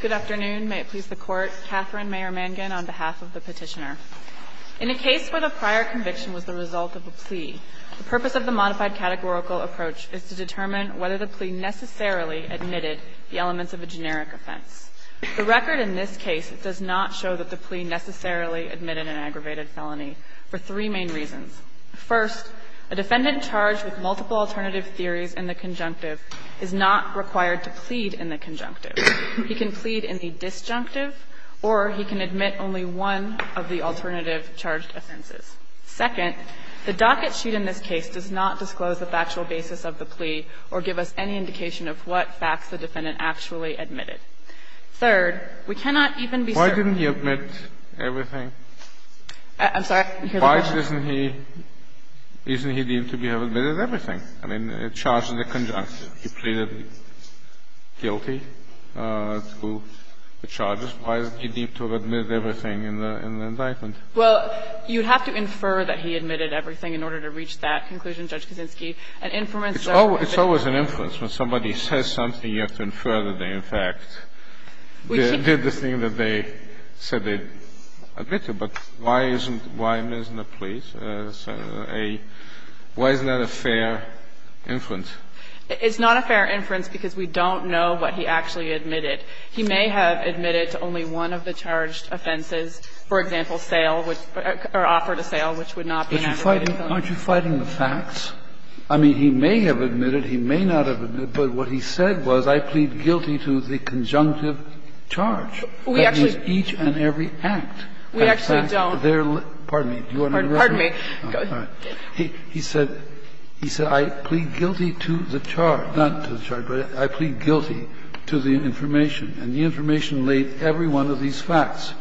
Good afternoon. May it please the Court. Katherine Mayer-Mangan on behalf of the petitioner. In a case where the prior conviction was the result of a plea, the purpose of the modified categorical approach is to determine whether the plea necessarily admitted the elements of a generic offense. The record in this case does not show that the plea necessarily admitted an aggravated felony for three main reasons. First, a defendant charged with multiple alternative theories in the conjunctive is not required to plead in the conjunctive. He can plead in the disjunctive or he can admit only one of the alternative charged offenses. Second, the docket sheet in this case does not disclose the factual basis of the plea or give us any indication of what facts the defendant actually admitted. Third, we cannot even be certain. Why didn't he admit everything? I'm sorry. Why isn't he deemed to have admitted everything? I mean, he charged in the conjunctive. He pleaded guilty to the charges. Why isn't he deemed to have admitted everything in the indictment? Well, you'd have to infer that he admitted everything in order to reach that conclusion, Judge Kaczynski. An inference that he admitted everything. It's always an inference. When somebody says something, you have to infer that they, in fact, did the thing that they said they admitted. But why isn't, why isn't the plea, why isn't that a fair inference? It's not a fair inference because we don't know what he actually admitted. He may have admitted to only one of the charged offenses, for example, sale, or offered a sale which would not be an aggravated felony. Aren't you fighting the facts? I mean, he may have admitted, he may not have admitted, but what he said was I plead guilty to the conjunctive charge. We actually. That means each and every act. We actually don't. Pardon me. Pardon me. He said, he said I plead guilty to the charge. Not to the charge, but I plead guilty to the information. And the information laid every one of these facts.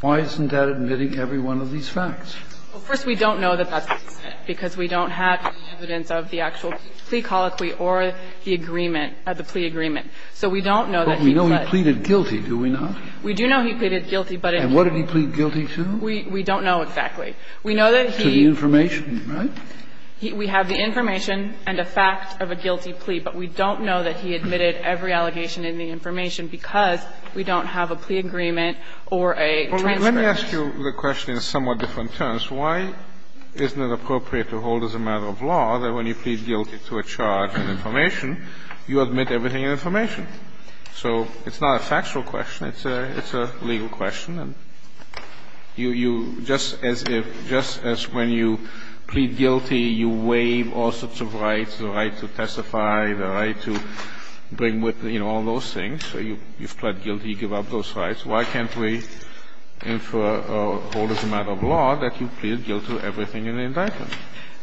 Why isn't that admitting every one of these facts? First, we don't know that that's the case, because we don't have evidence of the actual plea colloquy or the agreement, the plea agreement. So we don't know that he pled. But we know he pleaded guilty, do we not? We do know he pleaded guilty, but in. And what did he plead guilty to? We don't know exactly. We know that he. To the information, right? We have the information and a fact of a guilty plea, but we don't know that he admitted every allegation in the information because we don't have a plea agreement or a transcript. Well, let me ask you the question in somewhat different terms. Why isn't it appropriate to hold as a matter of law that when you plead guilty to a charge and information, you admit everything in information? So it's not a factual question. It's a legal question. You just as if, just as when you plead guilty, you waive all sorts of rights, the right to testify, the right to bring with, you know, all those things. You've pled guilty. You give up those rights. Why can't we hold as a matter of law that you plead guilty to everything in the indictment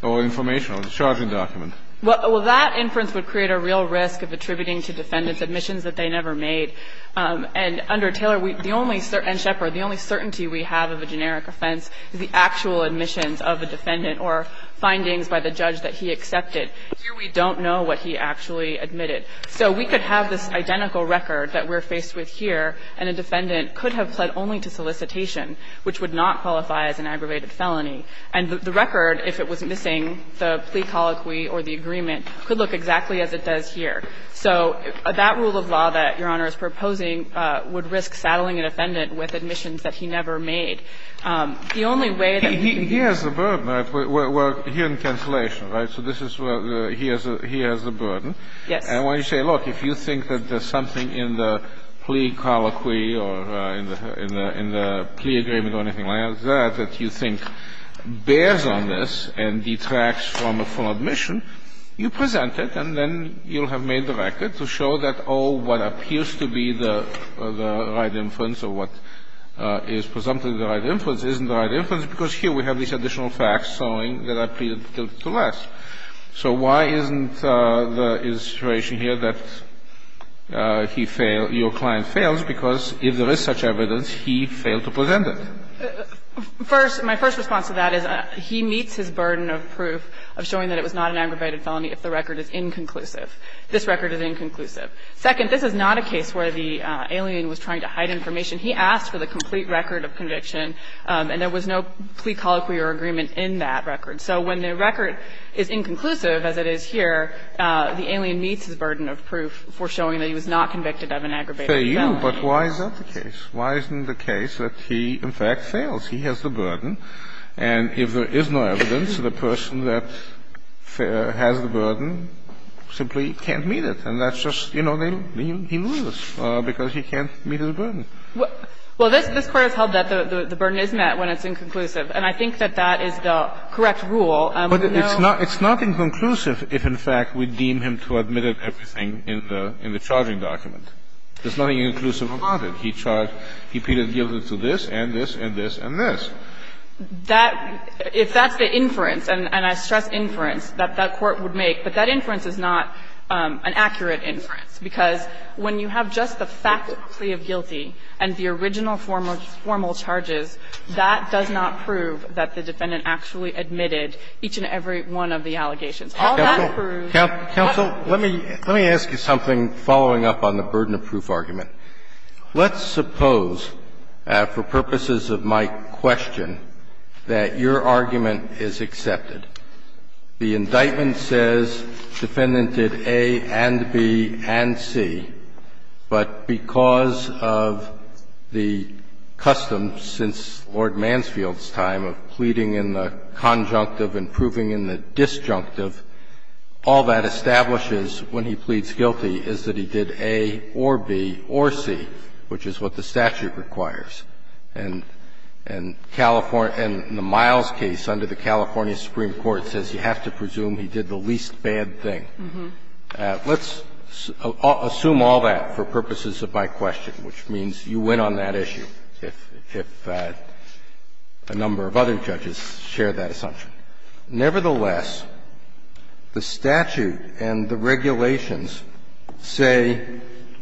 or information or the charging document? Well, that inference would create a real risk of attributing to defendants admissions that they never made. And under Taylor, we – and Shepard, the only certainty we have of a generic offense is the actual admissions of a defendant or findings by the judge that he accepted. Here, we don't know what he actually admitted. So we could have this identical record that we're faced with here, and a defendant could have pled only to solicitation, which would not qualify as an aggravated felony. And the record, if it was missing the plea colloquy or the agreement, could look exactly as it does here. So that rule of law that Your Honor is proposing would risk saddling an offendant with admissions that he never made. The only way that we can do that – He has the burden. We're here in cancellation, right? So this is where he has the burden. Yes. And when you say, look, if you think that there's something in the plea colloquy or in the plea agreement or anything like that that you think bears on this and detracts from a full admission, you present it, and then you'll have made the record to show that, oh, what appears to be the right inference or what is presumptively the right inference isn't the right inference, because here we have these additional facts showing that I pleaded to less. So why isn't the situation here that he failed – your client fails because if there is such evidence, he failed to present it? First – my first response to that is he meets his burden of proof of showing that it was not an aggravated felony if the record is inconclusive. This record is inconclusive. Second, this is not a case where the alien was trying to hide information. He asked for the complete record of conviction, and there was no plea colloquy or agreement in that record. So when the record is inconclusive, as it is here, the alien meets his burden of proof for showing that he was not convicted of an aggravated felony. But why is that the case? Why isn't the case that he, in fact, fails? He has the burden. And if there is no evidence, the person that has the burden simply can't meet it. And that's just, you know, he loses because he can't meet his burden. Well, this Court has held that the burden is met when it's inconclusive. And I think that that is the correct rule. And we know – But it's not inconclusive if, in fact, we deem him to have admitted everything in the charging document. There's nothing inconclusive about it. He charged – he pleaded guilty to this and this and this and this. That – if that's the inference, and I stress inference, that that Court would make. But that inference is not an accurate inference, because when you have just the fact that he has pleaded guilty and the original formal charges, that does not prove that the defendant actually admitted each and every one of the allegations. All that proves – Counsel, let me ask you something following up on the burden of proof argument. Let's suppose, for purposes of my question, that your argument is accepted. The indictment says defendant did A and B and C. But because of the custom since Lord Mansfield's time of pleading in the conjunctive and proving in the disjunctive, all that establishes when he pleads guilty is that he did A or B or C, which is what the statute requires. And the Miles case under the California Supreme Court says you have to presume he did the least bad thing. Let's assume all that for purposes of my question, which means you win on that issue if a number of other judges share that assumption. Nevertheless, the statute and the regulations say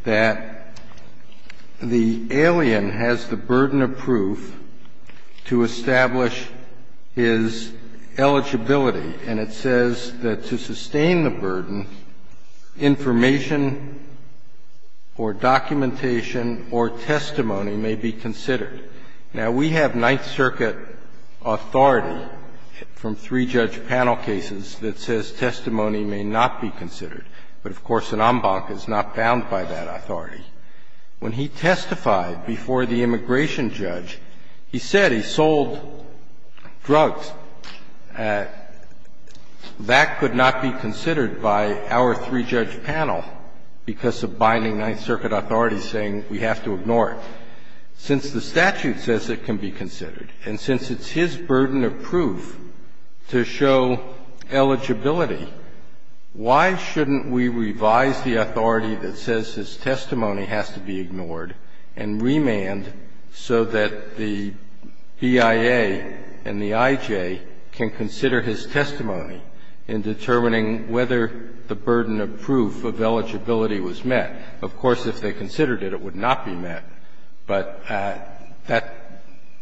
that the alien has the burden of proof to establish his eligibility, and it says that to sustain the burden, information or documentation or testimony may be considered. Now, we have Ninth Circuit authority from three-judge panel cases that says testimony may not be considered. But, of course, an en banc is not bound by that authority. When he testified before the immigration judge, he said he sold drugs. That could not be considered by our three-judge panel because of binding Ninth Circuit authority saying we have to ignore it. Since the statute says it can be considered, and since it's his burden of proof to show eligibility, why shouldn't we revise the authority that says his testimony has to be ignored and remand so that the BIA and the IJ can consider his testimony in determining whether the burden of proof of eligibility was met? Of course, if they considered it, it would not be met, but that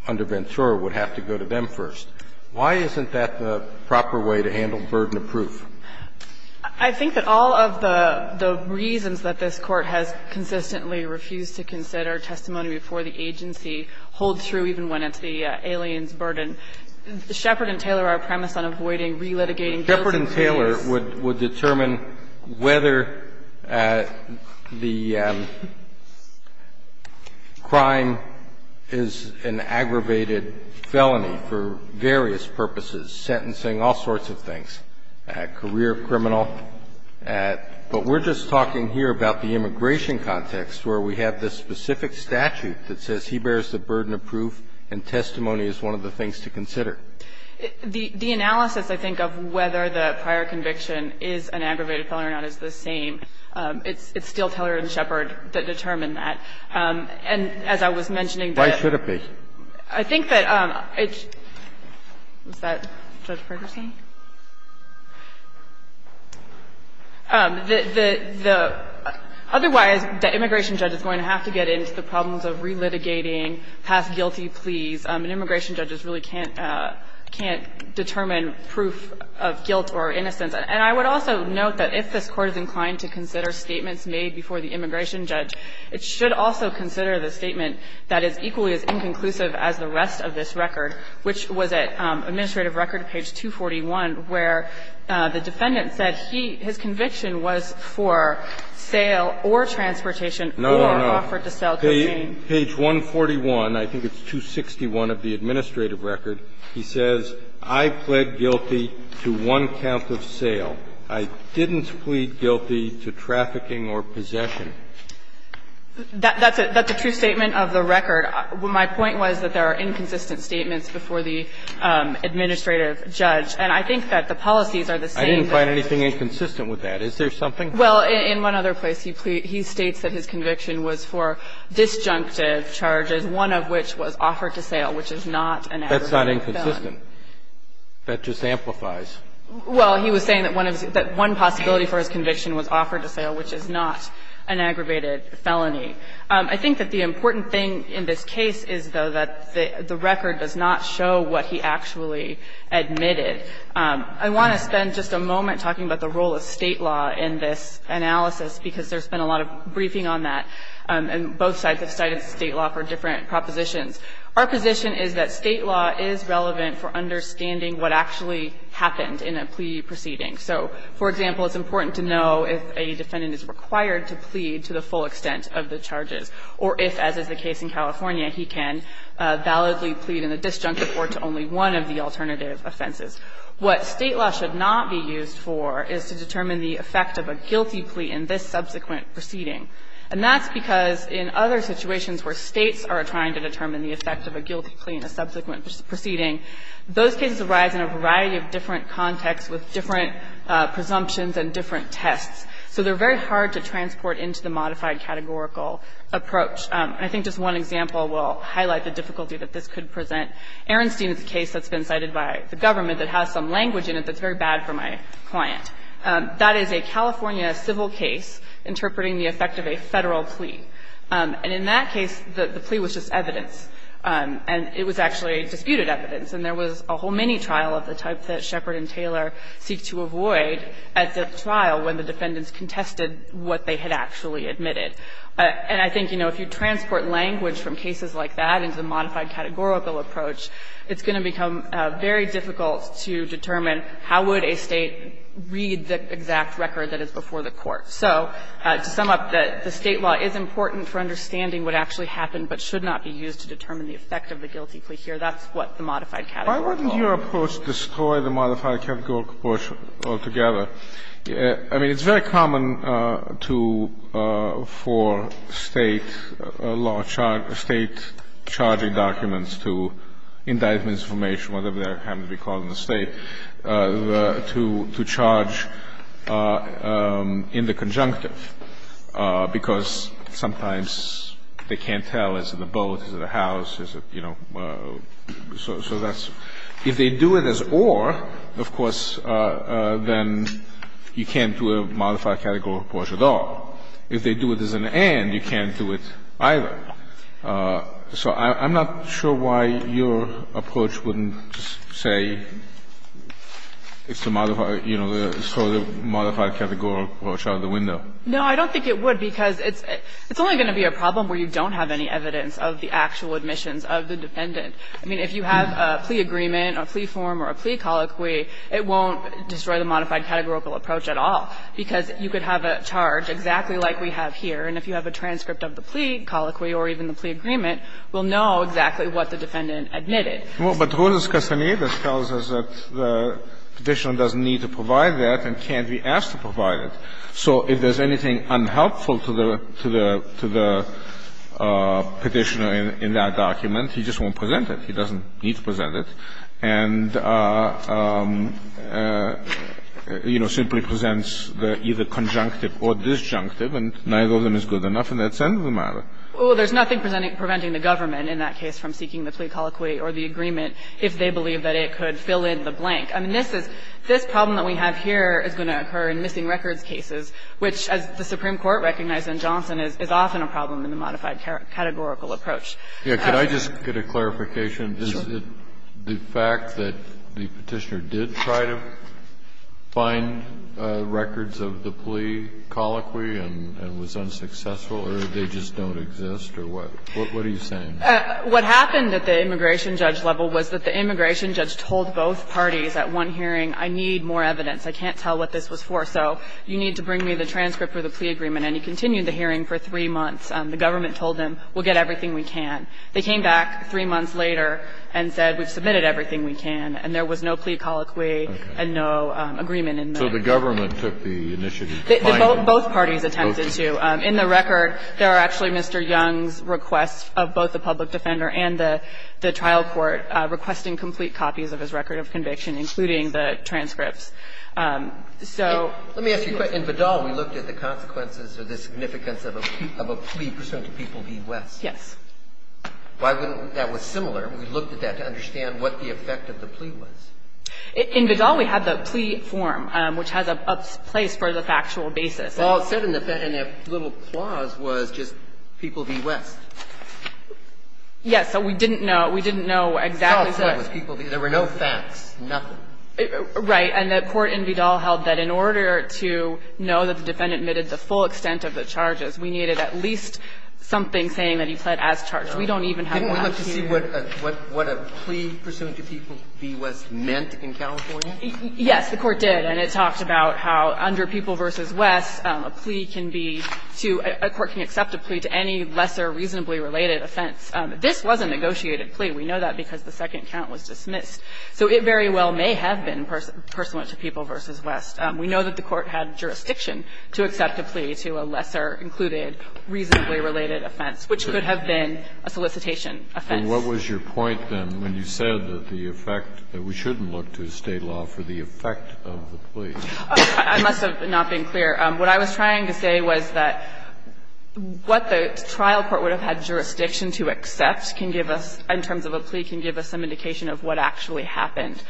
under Ventura would have to go to them first. Why isn't that the proper way to handle burden of proof? I think that all of the reasons that this Court has consistently refused to consider testimony before the agency hold true even when it's the alien's burden. Shepard and Taylor are premised on avoiding relitigating guilts and failures. Shepard and Taylor would determine whether the crime is an aggravated felony for various purposes, sentencing, all sorts of things, career criminal. But we're just talking here about the immigration context where we have this specific statute that says he bears the burden of proof and testimony is one of the things to consider. The analysis, I think, of whether the prior conviction is an aggravated felony or not is the same. It's still Taylor and Shepard that determine that. And as I was mentioning, the other thing is that I think that it's an aggravated felony and otherwise and should remain in the Supreme Court's case. Now someone questioning the big picture. Was that Judge Perkerson? The otherwise the anoración judge is going to have to get into the problems of relitigating past guilty pleas. And immigration judges really can't determine proof of guilt or innocence. And I would also note that if this Court is inclined to consider statements made before the immigration judge, it should also consider the statement that is equally as inconclusive as the rest of this record, which was at Administrative Record, page 241, where the defendant said he his conviction was for sale or transportation or offered to sell cocaine. No, no, no. Page 141, I think it's 261 of the Administrative Record, he says, I pled guilty to one count of sale. I didn't plead guilty to trafficking or possession. That's a true statement of the record. My point was that there are inconsistent statements before the administrative judge. And I think that the policies are the same. I didn't find anything inconsistent with that. Is there something? Well, in one other place, he states that his conviction was for disjunctive charges, one of which was offered to sale, which is not an aggregated felony. That's not inconsistent. That just amplifies. Well, he was saying that one possibility for his conviction was offered to sale, which is not an aggravated felony. I think that the important thing in this case is, though, that the record does not show what he actually admitted. I want to spend just a moment talking about the role of State law in this analysis, because there's been a lot of briefing on that, and both sides have cited State law for different propositions. Our position is that State law is relevant for understanding what actually happened in a plea proceeding. So, for example, it's important to know if a defendant is required to plead to the full extent of the charges, or if, as is the case in California, he can validly plead in a disjunctive court to only one of the alternative offenses. What State law should not be used for is to determine the effect of a guilty plea in this subsequent proceeding. And that's because in other situations where States are trying to determine the effect of a guilty plea in a subsequent proceeding, those cases arise in a variety of different contexts with different presumptions and different tests. So they're very hard to transport into the modified categorical approach. I think just one example will highlight the difficulty that this could present. Arenstein is a case that's been cited by the government that has some language in it that's very bad for my client. That is a California civil case interpreting the effect of a Federal plea. And in that case, the plea was just evidence. And it was actually disputed evidence. And there was a whole mini-trial of the type that Shepard and Taylor seek to avoid at the trial when the defendants contested what they had actually admitted. And I think, you know, if you transport language from cases like that into a modified categorical approach, it's going to become very difficult to determine how would a State read the exact record that is before the court. So to sum up, the State law is important for understanding what actually happened but should not be used to determine the effect of the guilty plea here. That's what the modified categorical approach is. Kennedy, why wouldn't your approach destroy the modified categorical approach altogether? I mean, it's very common to for State law charge or State charging documents to indictments of information, whatever they happen to be called in the State, to charge in the conjunctive, because sometimes they can't tell, is it a boat, is it a house, is it, you know, so that's – if they do it as or, of course, then you can't do a modified categorical approach at all. If they do it as an and, you can't do it either. So I'm not sure why your approach wouldn't say it's to modify, you know, throw the modified categorical approach out of the window. No, I don't think it would, because it's only going to be a problem where you don't have any evidence of the actual admissions of the defendant. I mean, if you have a plea agreement or a plea form or a plea colloquy, it won't destroy the modified categorical approach at all, because you could have a charge exactly like we have here, and if you have a transcript of the plea, colloquy or even the plea agreement, we'll know exactly what the defendant admitted. Well, but Roses-Castaneda tells us that the Petitioner doesn't need to provide that and can't be asked to provide it. So if there's anything unhelpful to the Petitioner in that document, he just won't present it. He doesn't need to present it and, you know, simply presents the either conjunctive or disjunctive, and neither of them is good enough in that sense of the matter. Well, there's nothing preventing the government in that case from seeking the plea colloquy or the agreement if they believe that it could fill in the blank. I mean, this is this problem that we have here is going to occur in missing records cases, which, as the Supreme Court recognized in Johnson, is often a problem in the modified categorical approach. Yeah. Could I just get a clarification? Sure. Is it the fact that the Petitioner did try to find records of the plea? Did the Petitioner try to find records of the plea colloquy and was unsuccessful or they just don't exist or what? What are you saying? What happened at the immigration judge level was that the immigration judge told both parties at one hearing, I need more evidence, I can't tell what this was for, so you need to bring me the transcript of the plea agreement, and he continued the hearing for three months. The government told him, we'll get everything we can. They came back three months later and said, we've submitted everything we can, and there was no plea colloquy and no agreement in that. So the government took the initiative to find it? Both parties attempted to. In the record, there are actually Mr. Young's requests of both the public defender and the trial court requesting complete copies of his record of conviction, including the transcripts. So let me ask you a question. In Badal, we looked at the consequences or the significance of a plea pursuant to People v. West. Yes. Why wouldn't we? That was similar. We looked at that to understand what the effect of the plea was. In Badal, we had the plea form, which has a place for the factual basis. All it said in that little clause was just People v. West. Yes. So we didn't know. We didn't know exactly what it said. All it said was People v. West. There were no facts, nothing. Right. And the court in Badal held that in order to know that the defendant admitted the full extent of the charges, we needed at least something saying that he pled as charged. We don't even have one here. Didn't we look to see what a plea pursuant to People v. West meant in California? Yes, the court did. And it talked about how under People v. West, a plea can be to – a court can accept a plea to any lesser reasonably related offense. This was a negotiated plea. We know that because the second count was dismissed. So it very well may have been pursuant to People v. West. We know that the court had jurisdiction to accept a plea to a lesser included reasonably related offense, which could have been a solicitation offense. And what was your point, then, when you said that the effect – that we shouldn't look to State law for the effect of the plea? I must have not been clear. What I was trying to say was that what the trial court would have had jurisdiction to accept can give us – in terms of a plea can give us some indication of what actually happened.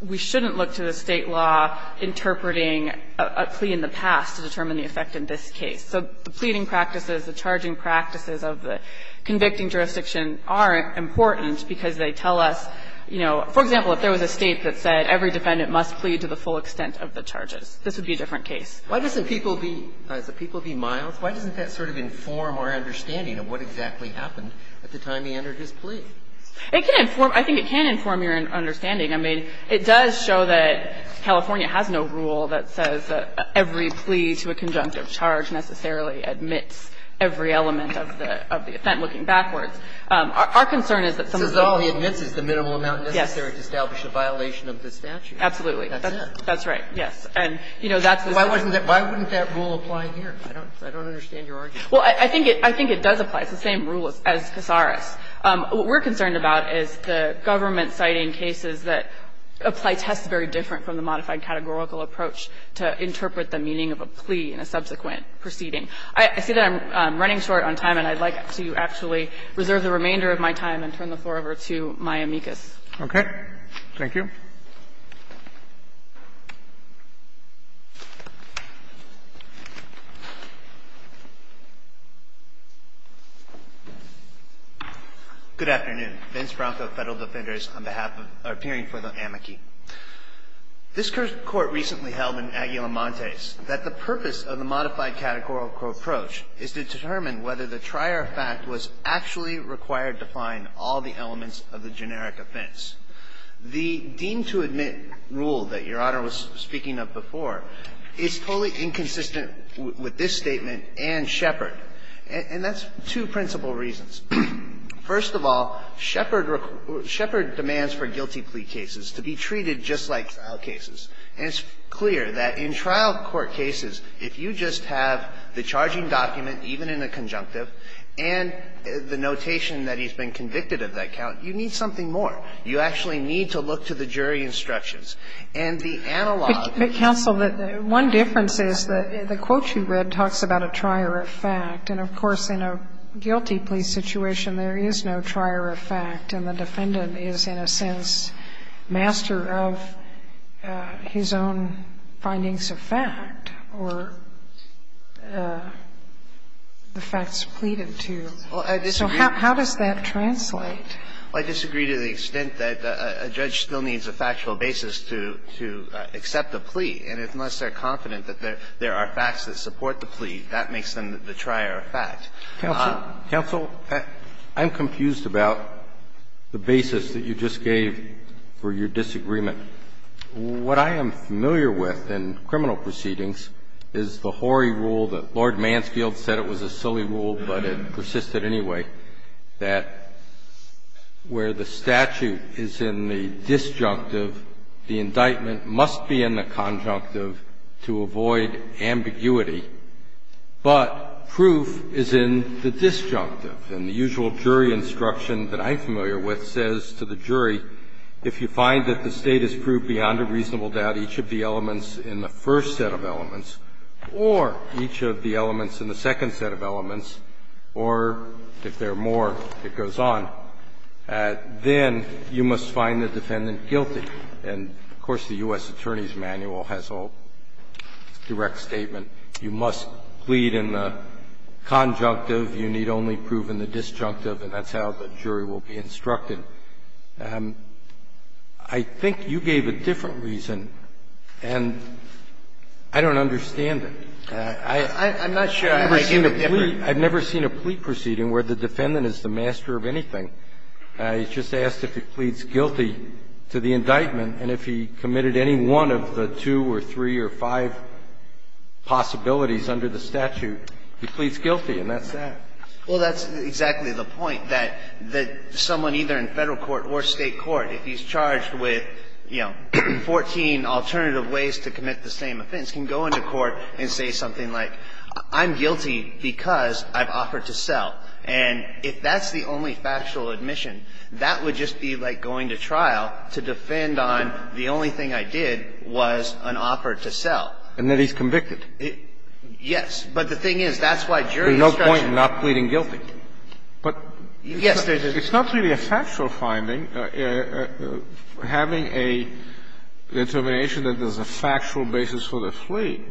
We shouldn't look to the State law interpreting a plea in the past to determine the effect in this case. So the pleading practices, the charging practices of the convicting jurisdiction are important because they tell us, you know – for example, if there was a State that said every defendant must plead to the full extent of the charges, this would be a different case. Why doesn't People v. Miles – why doesn't that sort of inform our understanding of what exactly happened at the time he entered his plea? It can inform – I think it can inform your understanding. I mean, it does show that California has no rule that says that every plea to a conjunctive charge necessarily admits every element of the – of the offense, looking backwards. Our concern is that some of the rules – So all he admits is the minimal amount necessary to establish a violation of the statute. Absolutely. That's it. That's right. Yes. And, you know, that's the same – Why wouldn't that rule apply here? I don't understand your argument. Well, I think it does apply. It's the same rule as Casares. What we're concerned about is the government citing cases that apply tests very different from the modified categorical approach to interpret the meaning of a plea in a subsequent proceeding. I see that I'm running short on time, and I'd like to actually reserve the remainder of my time and turn the floor over to my amicus. Okay. Thank you. Good afternoon. Vince Bronco, Federal Defenders, on behalf of – or appearing for the amici. This Court recently held in Aguilamontes that the purpose of the modified categorical approach is to determine whether the trier fact was actually required to find all the elements of the generic offense. The deem-to-admit rule that Your Honor was speaking of before is totally inconsistent with this statement and Shepard, and that's two principal reasons. First of all, Shepard demands for guilty plea cases to be treated just like trial cases. And it's clear that in trial court cases, if you just have the charging document, even in a conjunctive, and the notation that he's been convicted of that count, you need something more. You actually need to look to the jury instructions. And the analog of the jury instructions is that the trial court case is a trial of fact, and that the defendant is the trier of fact. And of course, in a guilty plea situation, there is no trier of fact, and the defendant is, in a sense, master of his own findings of fact or the facts pleaded to. So how does that translate? I disagree to the extent that a judge still needs a factual basis to accept a plea. And unless they're confident that there are facts that support the plea, that makes them the trier of fact. Counsel, I'm confused about the basis that you just gave for your disagreement. What I am familiar with in criminal proceedings is the Horry rule that Lord Mansfield said it was a silly rule, but it persisted anyway, that where the statute is in the disjunctive, the indictment must be in the conjunctive to avoid ambiguity. But proof is in the disjunctive. And the usual jury instruction that I'm familiar with says to the jury, if you find that the State has proved beyond a reasonable doubt each of the elements in the first set of elements, or each of the elements in the second set of elements, or if there are more, it goes on, then you must find the defendant guilty. And, of course, the U.S. Attorney's Manual has a direct statement. You must plead in the conjunctive. You need only prove in the disjunctive, and that's how the jury will be instructed. But I think you gave a different reason, and I don't understand it. I've never seen a plea proceeding where the defendant is the master of anything. He's just asked if he pleads guilty to the indictment, and if he committed any one of the two or three or five possibilities under the statute, he pleads guilty, and that's that. Well, that's exactly the point, that someone either in Federal court or State court, if he's charged with, you know, 14 alternative ways to commit the same offense, can go into court and say something like, I'm guilty because I've offered to sell. And if that's the only factual admission, that would just be like going to trial to defend on the only thing I did was an offer to sell. And that he's convicted. Yes. But the thing is, that's why jury instruction. There's no point in not pleading guilty. But it's not really a factual finding. Having a determination that there's a factual basis for the plea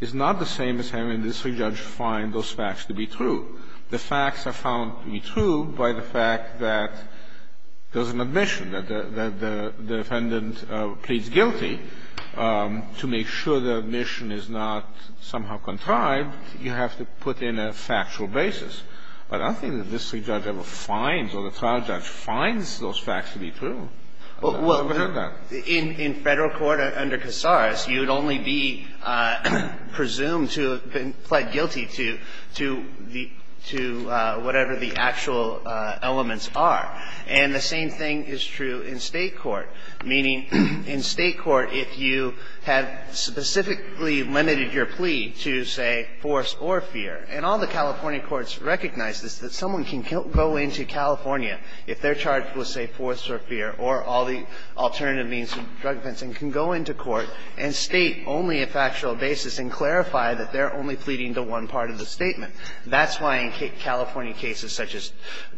is not the same as having the district judge find those facts to be true. The facts are found to be true by the fact that there's an admission that the defendant pleads guilty. To make sure the admission is not somehow contrived, you have to put in a factual basis. But I don't think the district judge ever finds or the trial judge finds those facts to be true. Well, in Federal court under Casares, you would only be presumed to have pled guilty to the to whatever the actual elements are. And the same thing is true in State court. Meaning, in State court, if you have specifically limited your plea to, say, force or fear, and all the California courts recognize this, that someone can go into California if they're charged with, say, force or fear or all the alternative means of drug offense and can go into court and state only a factual basis and clarify that they're only pleading to one part of the statement. That's why in California cases such as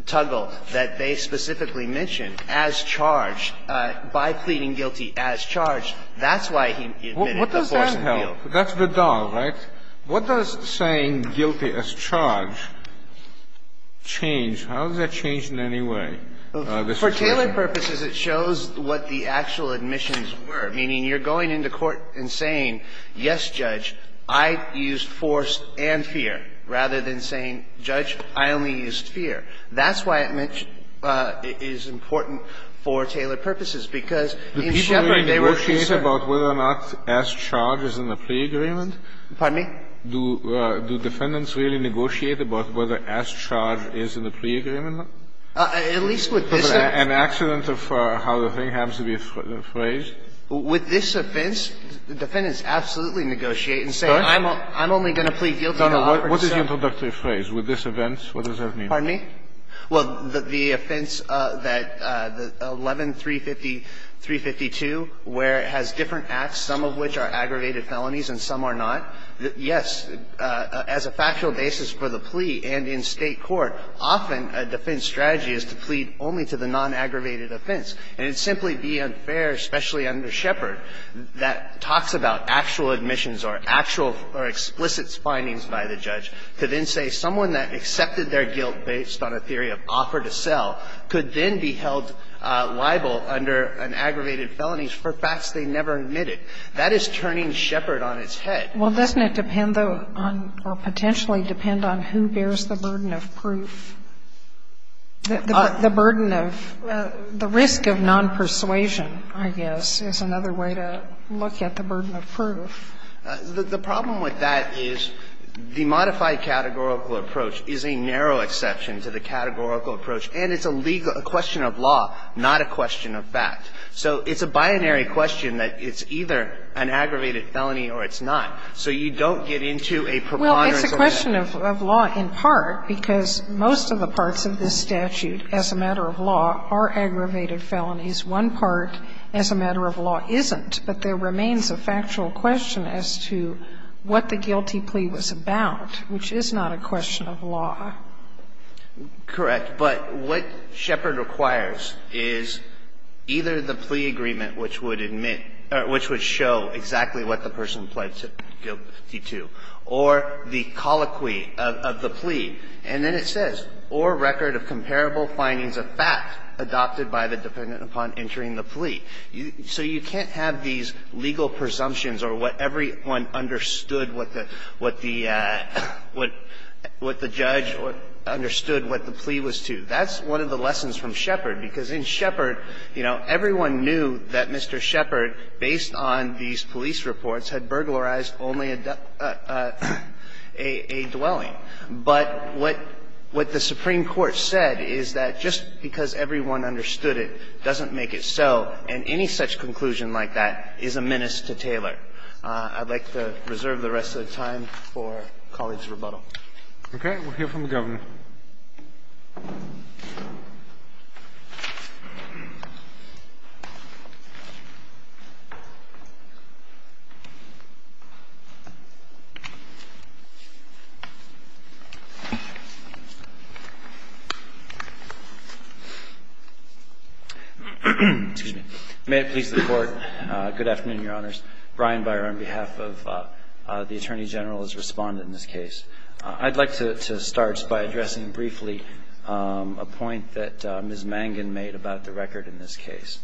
Tuggle that they specifically mention as charged by pleading guilty as charged, that's why he admitted the force and fear. That's the dog, right? What does saying guilty as charged change? How does that change in any way? For Taylor purposes, it shows what the actual admissions were. Meaning, you're going into court and saying, yes, Judge, I used force and fear, rather than saying, Judge, I only used fear. That's why it is important for Taylor purposes, because in Sheppard, they were concerned. Kennedy, do Defendants really negotiate about whether as charged is in the plea agreement? At least with this offense. An accident of how the thing happens to be phrased. With this offense, Defendants absolutely negotiate and say, I'm only going to plead guilty to all the concerns. What is the introductory phrase? With this offense, what does that mean? Pardon me? Well, the offense that 11-350-352, where it has different acts, some of which are aggravated felonies and some are not, yes, as a factual basis for the plea and in State court, often a defense strategy is to plead only to the non-aggravated offense. And it would simply be unfair, especially under Sheppard, that talks about actual admissions or actual or explicit findings by the judge, to then say someone that accepted their guilt based on a theory of offer to sell could then be held liable under an aggravated felony for facts they never admitted. That is turning Sheppard on its head. Well, doesn't it depend on or potentially depend on who bears the burden of proof? The burden of the risk of non-persuasion, I guess, is another way to look at the burden of proof. The problem with that is the modified categorical approach is a narrow exception to the categorical approach, and it's a legal question of law, not a question of fact. So it's a binary question that it's either an aggravated felony or it's not. So you don't get into a preponderance of that. Well, it's a question of law in part because most of the parts of this statute as a matter of law are aggravated felonies. One part as a matter of law isn't, but there remains a factual question as to what the guilty plea was about, which is not a question of law. Correct. But what Sheppard requires is either the plea agreement which would admit or which would show exactly what the person pled guilty to, or the colloquy of the plea. And then it says, So you can't have these legal presumptions or what everyone understood what the judge understood what the plea was to. That's one of the lessons from Sheppard, because in Sheppard, you know, everyone knew that Mr. Sheppard, based on these police reports, had burglarized only a dwelling. The Supreme Court said is that just because everyone understood it doesn't make it so, and any such conclusion like that is a menace to Taylor. I'd like to reserve the rest of the time for colleagues' rebuttal. Okay. We'll hear from the Governor. May it please the Court, good afternoon, Your Honors. Brian Beyer on behalf of the Attorney General has responded in this case. I'd like to start by addressing briefly a point that Ms. Mangan made about the record in this case.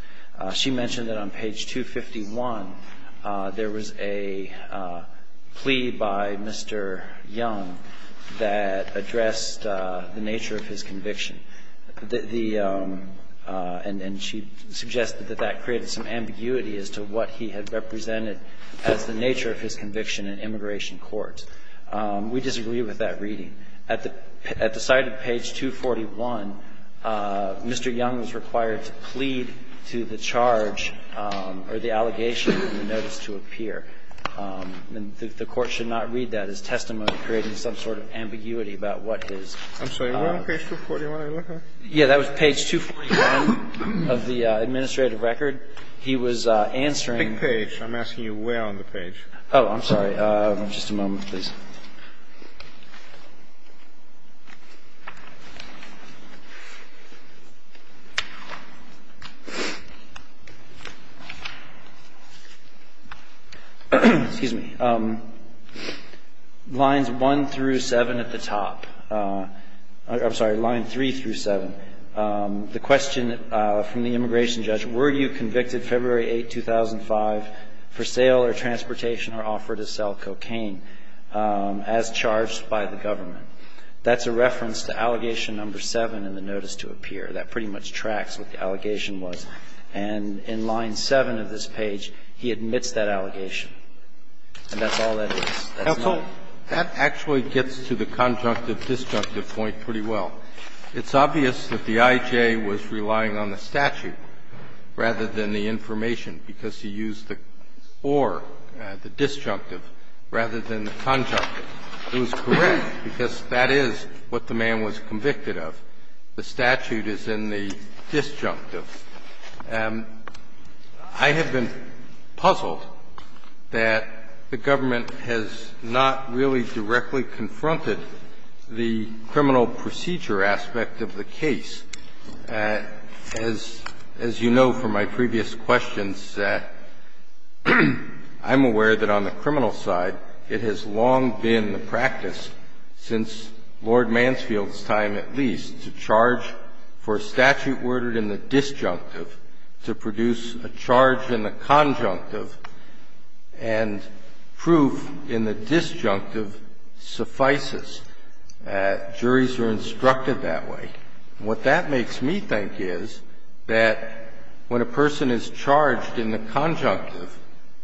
She mentioned that on page 251, there was a plea by Mr. Young that addressed the nature of his conviction. The – and she suggested that that created some ambiguity as to what he had represented as the nature of his conviction in immigration court. We disagree with that reading. At the site of page 241, Mr. Young was required to plead to the charge or the allegation in the notice to appear. The Court should not read that as testimony, creating some sort of ambiguity about what his – I'm sorry. Where on page 241 did I look at? Yeah. That was page 241 of the administrative record. He was answering – Pick page. I'm asking you where on the page. Oh, I'm sorry. Just a moment, please. Excuse me. Lines 1 through 7 at the top. I'm sorry. Line 3 through 7. The question from the immigration judge, were you convicted February 8, 2005, for sale or transportation or offer to sell cocaine as charged by the government? That's a reference to allegation number 7 in the notice to appear. That pretty much tracks what the allegation was. And in line 7 of this page, he admits that allegation. And that's all that is. That's all. Counsel, that actually gets to the conjunctive-destructive point pretty well. It's obvious that the I.J. was relying on the statute rather than the information because he used the or, the disjunctive, rather than the conjunctive. It was correct because that is what the man was convicted of. The statute is in the disjunctive. I have been puzzled that the government has not really directly confronted the criminal procedure aspect of the case. As you know from my previous questions, I'm aware that on the criminal side, it has long been the practice, since Lord Mansfield's time at least, to charge for a statute ordered in the disjunctive to produce a charge in the conjunctive. And proof in the disjunctive suffices. Juries are instructed that way. What that makes me think is that when a person is charged in the conjunctive,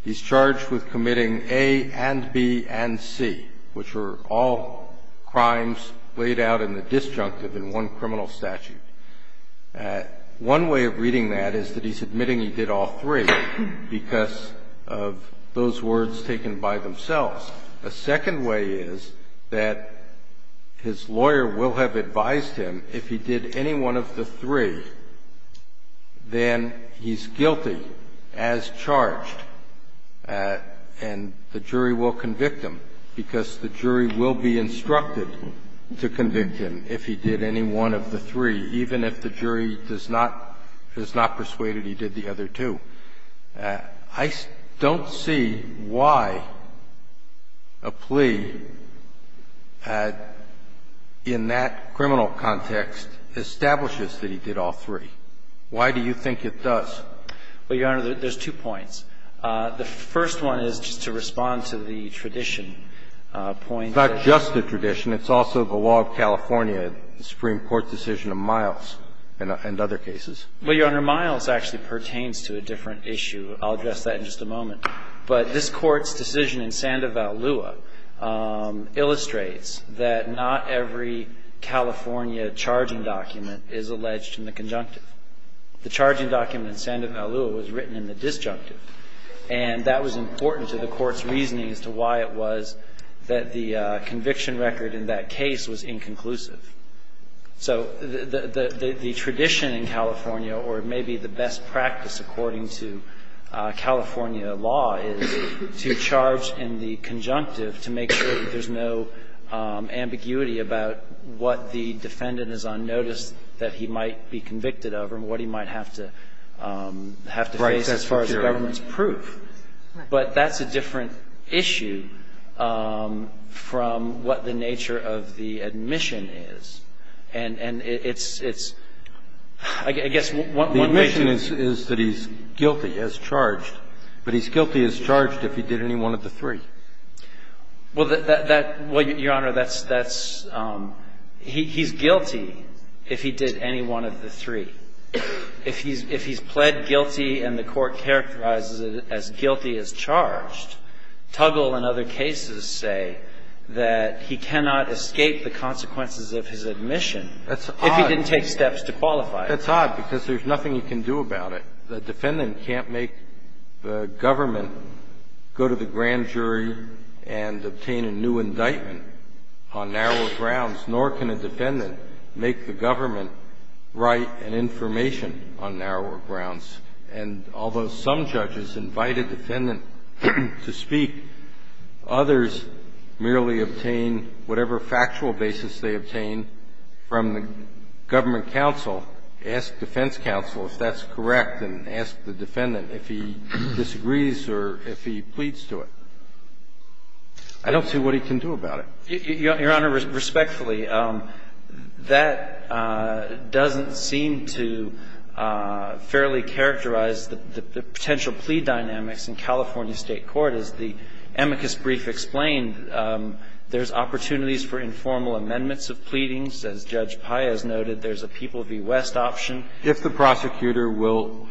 he's charged with committing A and B and C, which are all crimes laid out in the disjunctive in one criminal statute. One way of reading that is that he's admitting he did all three because of those words taken by themselves. A second way is that his lawyer will have advised him if he did any one of the three, then he's guilty as charged and the jury will convict him because the jury will be instructed to convict him if he did any one of the three, even if the jury does not, is not persuaded he did the other two. I don't see why a plea in that criminal context establishes that he did all three. Why do you think it does? Well, Your Honor, there's two points. The first one is just to respond to the tradition point. It's not just the tradition. It's also the law of California, the Supreme Court decision of Miles and other cases. I'll address that in just a moment. But this Court's decision in Sandoval-Lua illustrates that not every California charging document is alleged in the conjunctive. The charging document in Sandoval-Lua was written in the disjunctive, and that was important to the Court's reasoning as to why it was that the conviction record in that case was inconclusive. So the tradition in California, or maybe the best practice according to California law, is to charge in the conjunctive to make sure that there's no ambiguity about what the defendant is on notice that he might be convicted of and what he might have to face as far as government's proof. Right. But that's a different issue from what the nature of the admission is. And it's – I guess one way to – The admission is that he's guilty as charged, but he's guilty as charged if he did any one of the three. Well, Your Honor, that's – he's guilty if he did any one of the three. If he's pled guilty and the Court characterizes it as guilty as charged, Tuggle and other cases say that he cannot escape the consequences of his admission if he didn't take steps to qualify. That's odd because there's nothing you can do about it. The defendant can't make the government go to the grand jury and obtain a new indictment on narrower grounds, nor can a defendant make the government write an information on narrower grounds. And although some judges invite a defendant to speak, others merely obtain whatever factual basis they obtain from the government counsel, ask defense counsel if that's correct, and ask the defendant if he disagrees or if he pleads to it. I don't see what he can do about it. Your Honor, respectfully, that doesn't seem to fairly characterize the potential plea dynamics in California State court. As the amicus brief explained, there's opportunities for informal amendments of pleadings. As Judge Paez noted, there's a People v. West option. If the prosecutor will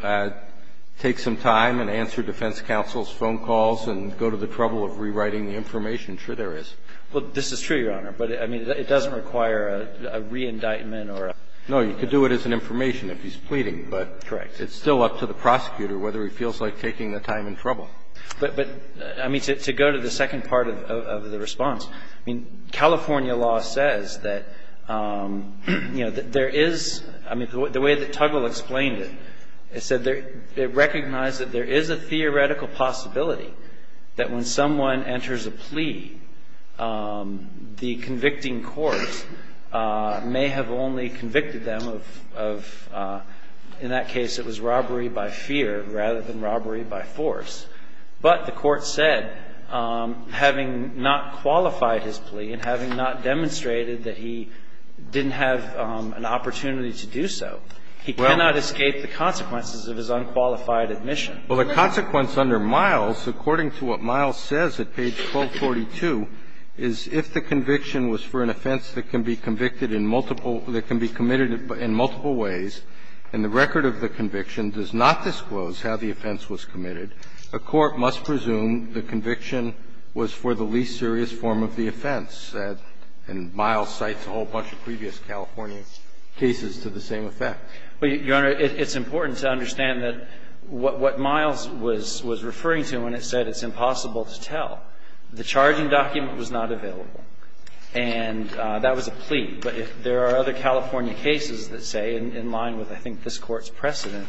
take some time and answer defense counsel's phone calls and go to the trouble of rewriting the information, sure there is. Well, this is true, Your Honor, but, I mean, it doesn't require a re-indictment or a plea. No, you could do it as an information if he's pleading, but it's still up to the prosecutor whether he feels like taking the time and trouble. But, I mean, to go to the second part of the response, I mean, California law says that, you know, there is the way that Tuggle explained it. It said they recognize that there is a theoretical possibility that when someone enters a plea, the convicting court may have only convicted them of, in that case, it was robbery by fear rather than robbery by force. But the court said, having not qualified his plea and having not demonstrated that he didn't have an opportunity to do so, he cannot escape the consequences of his unqualified admission. Well, the consequence under Miles, according to what Miles says at page 1242, is if the conviction was for an offense that can be convicted in multiple – that can be committed in multiple ways and the record of the conviction does not disclose how the offense was committed, a court must presume the conviction was for the least It provides an opportunity for the prosecution to try toer, which is to admit that Miles cites a whole bunch of previous California cases to the same effect. Well, Your Honor, it's important to understand that what Miles was referring to when it said it's impossible to tell, the charging document was not available, and that was a plea. But there are other California cases that say, in line with, I think, this Court's precedent,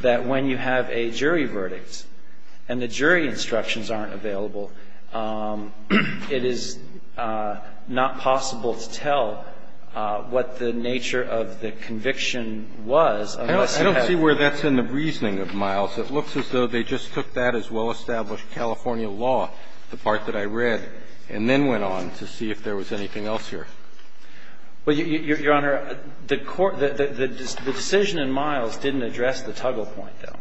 that when you have a jury verdict, and the jury instructions aren't available, it is not possible to tell what the nature of the conviction was unless you have a charge document. I don't see where that's in the reasoning of Miles. It looks as though they just took that as well-established California law, the part that I read, and then went on to see if there was anything else here. Well, Your Honor, the Court the decision in Miles didn't address the toggle point, though.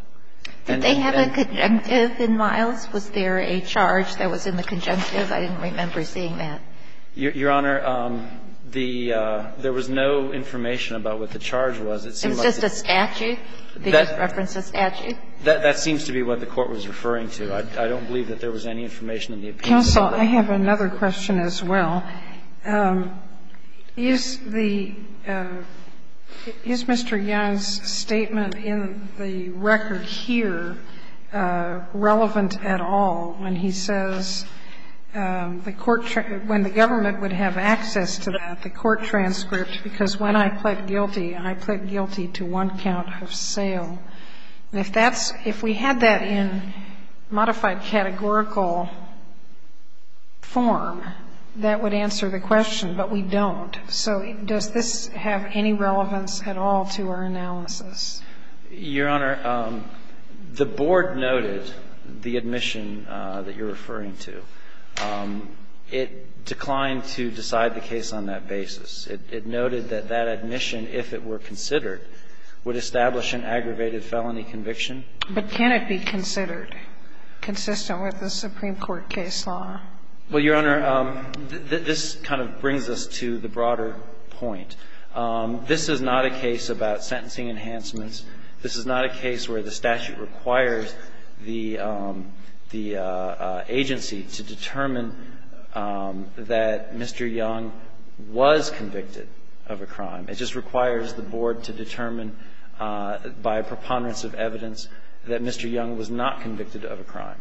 Did they have a conjunctive in Miles? Was there a charge that was in the conjunctive? I didn't remember seeing that. Your Honor, the – there was no information about what the charge was. It seemed like it was just a statute. They just referenced a statute. That seems to be what the Court was referring to. I don't believe that there was any information in the appeasement. Counsel, I have another question as well. Is the – is Mr. Young's statement in the record here relevant at all when he says the court – when the government would have access to that, the court transcript, because when I pled guilty, I pled guilty to one count of sale. And if that's – if we had that in modified categorical form, that would answer the question. But we don't. So does this have any relevance at all to our analysis? Your Honor, the Board noted the admission that you're referring to. It declined to decide the case on that basis. It noted that that admission, if it were considered, would establish an aggravated felony conviction. But can it be considered consistent with the Supreme Court case law? Well, Your Honor, this kind of brings us to the broader point. This is not a case about sentencing enhancements. This is not a case where the statute requires the agency to determine that Mr. Young was convicted of a crime. It just requires the Board to determine by preponderance of evidence that Mr. Young was not convicted of a crime,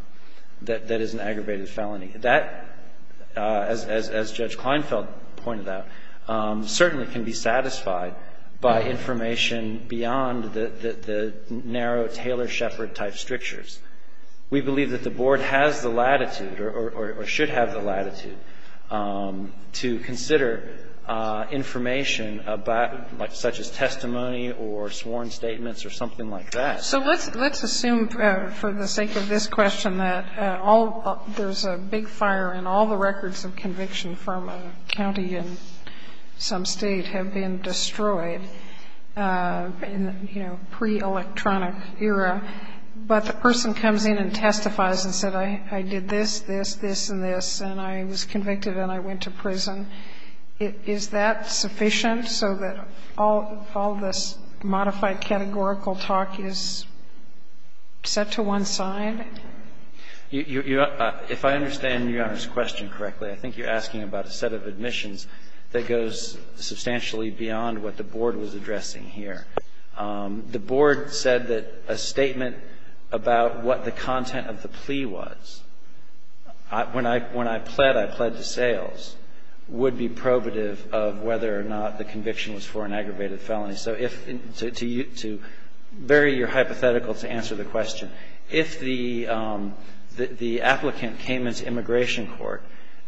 that that is an aggravated felony. That, as Judge Kleinfeld pointed out, certainly can be satisfied by information beyond the narrow Taylor-Shepard type strictures. We believe that the Board has the latitude or should have the latitude to consider information about, such as testimony or sworn statements or something like that. So let's assume, for the sake of this question, that there's a big fire and all the records of conviction from a county in some State have been destroyed in, you know, pre-electronic era, but the person comes in and testifies and said, I did this, this, this, and this, and is that sufficient so that all this modified categorical talk is set to one side? If I understand Your Honor's question correctly, I think you're asking about a set of admissions that goes substantially beyond what the Board was addressing here. The Board said that a statement about what the content of the plea was, when I pled, I pled to sales, would be probative of whether or not the conviction was for an aggravated felony. So if to you, to vary your hypothetical to answer the question, if the applicant came into immigration court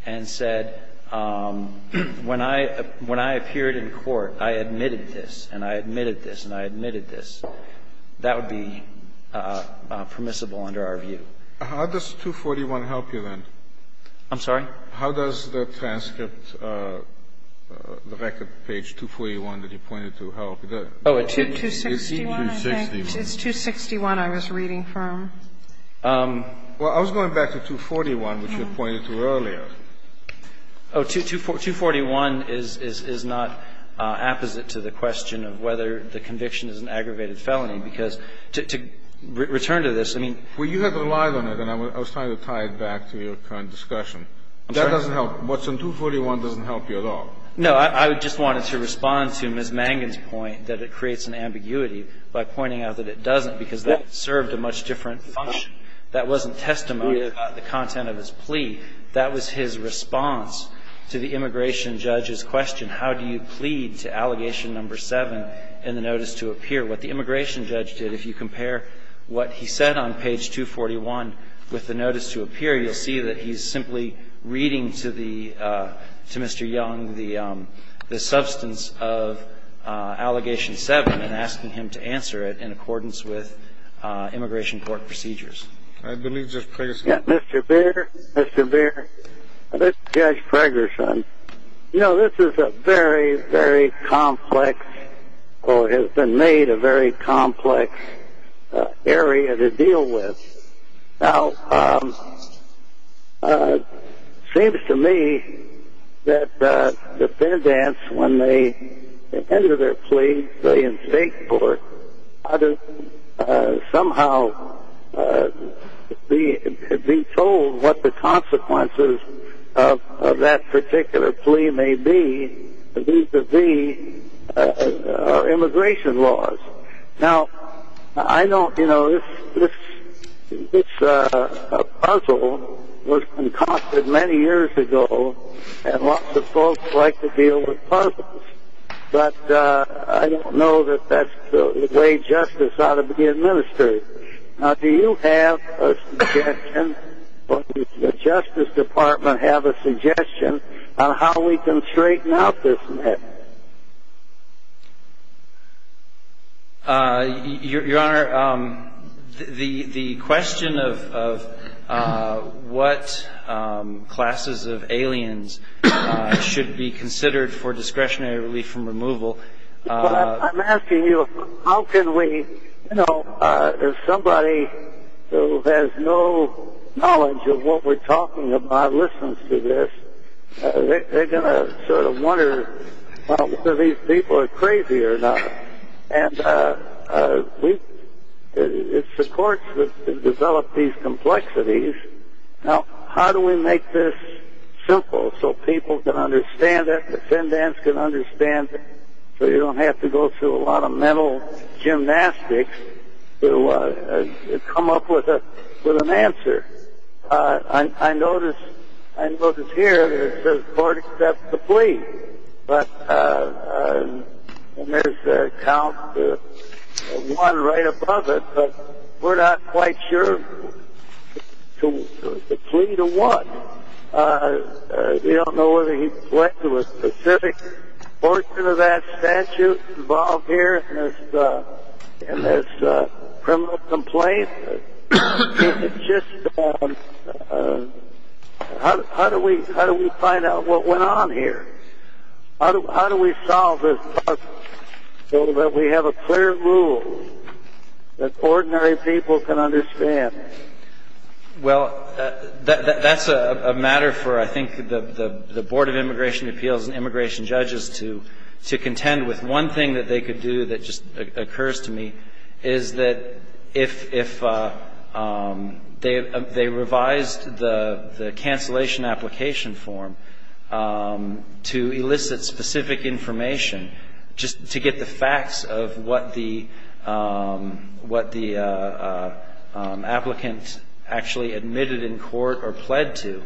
and said, when I appeared in court, I admitted this, and I admitted this, and I admitted this, that would be permissible under our view. How does 241 help you then? I'm sorry? How does the transcript, the record page 241 that you pointed to help? It's 261, I think. It's 261 I was reading from. Well, I was going back to 241, which you pointed to earlier. Oh, 241 is not apposite to the question of whether the conviction is an aggravated felony, because to return to this, I mean. Well, you had relied on it, and I was trying to tie it back to your current discussion. That doesn't help. What's on 241 doesn't help you at all. No, I just wanted to respond to Ms. Mangan's point that it creates an ambiguity by pointing out that it doesn't, because that served a much different function. That wasn't testimony about the content of his plea. That was his response to the immigration judge's question, how do you plead to allegation number seven in the notice to appear? What the immigration judge did, if you compare what he said on page 241 with the notice to appear, you'll see that he's simply reading to Mr. Young the substance of allegation seven and asking him to answer it in accordance with immigration court procedures. I believe Judge Fragerson. Mr. Beer, Mr. Beer, this is Judge Fragerson. You know, this is a very, very complex, or has been made a very complex area to deal with. Now, it seems to me that defendants, when they enter their plea, they instinct for, how to somehow be told what the consequences of that particular plea may be due to the immigration laws. Now, I don't, you know, this puzzle was concocted many years ago, and lots of folks like to deal with puzzles. But I don't know that that's the way justice ought to be administered. Now, do you have a suggestion, or does the Justice Department have a suggestion, on how we can straighten out this mess? Your Honor, the question of what classes of aliens should be considered for discretionary relief from removal. I'm asking you, how can we, you know, if somebody who has no knowledge of what we're talking about listens to this, they're going to sort of wonder whether these people are crazy or not. And we, it's the courts that develop these complexities. Now, how do we make this simple so people can understand it, defendants can understand it, so you don't have to go through a lot of mental gymnastics to come up with an answer? I notice, I notice here, it says court accepts the plea. But, and there's a count of one right above it, but we're not quite sure the plea to what. We don't know whether he went to a specific portion of that statute involved here in this criminal complaint. It's just, how do we find out what went on here? How do we solve this problem so that we have a clear rule that ordinary people can understand? Well, that's a matter for, I think, the Board of Immigration Appeals and immigration judges to contend with. One thing that they could do that just occurs to me is that if they revised the cancellation application form to elicit specific information just to get the facts of what the applicant actually admitted in court or pled to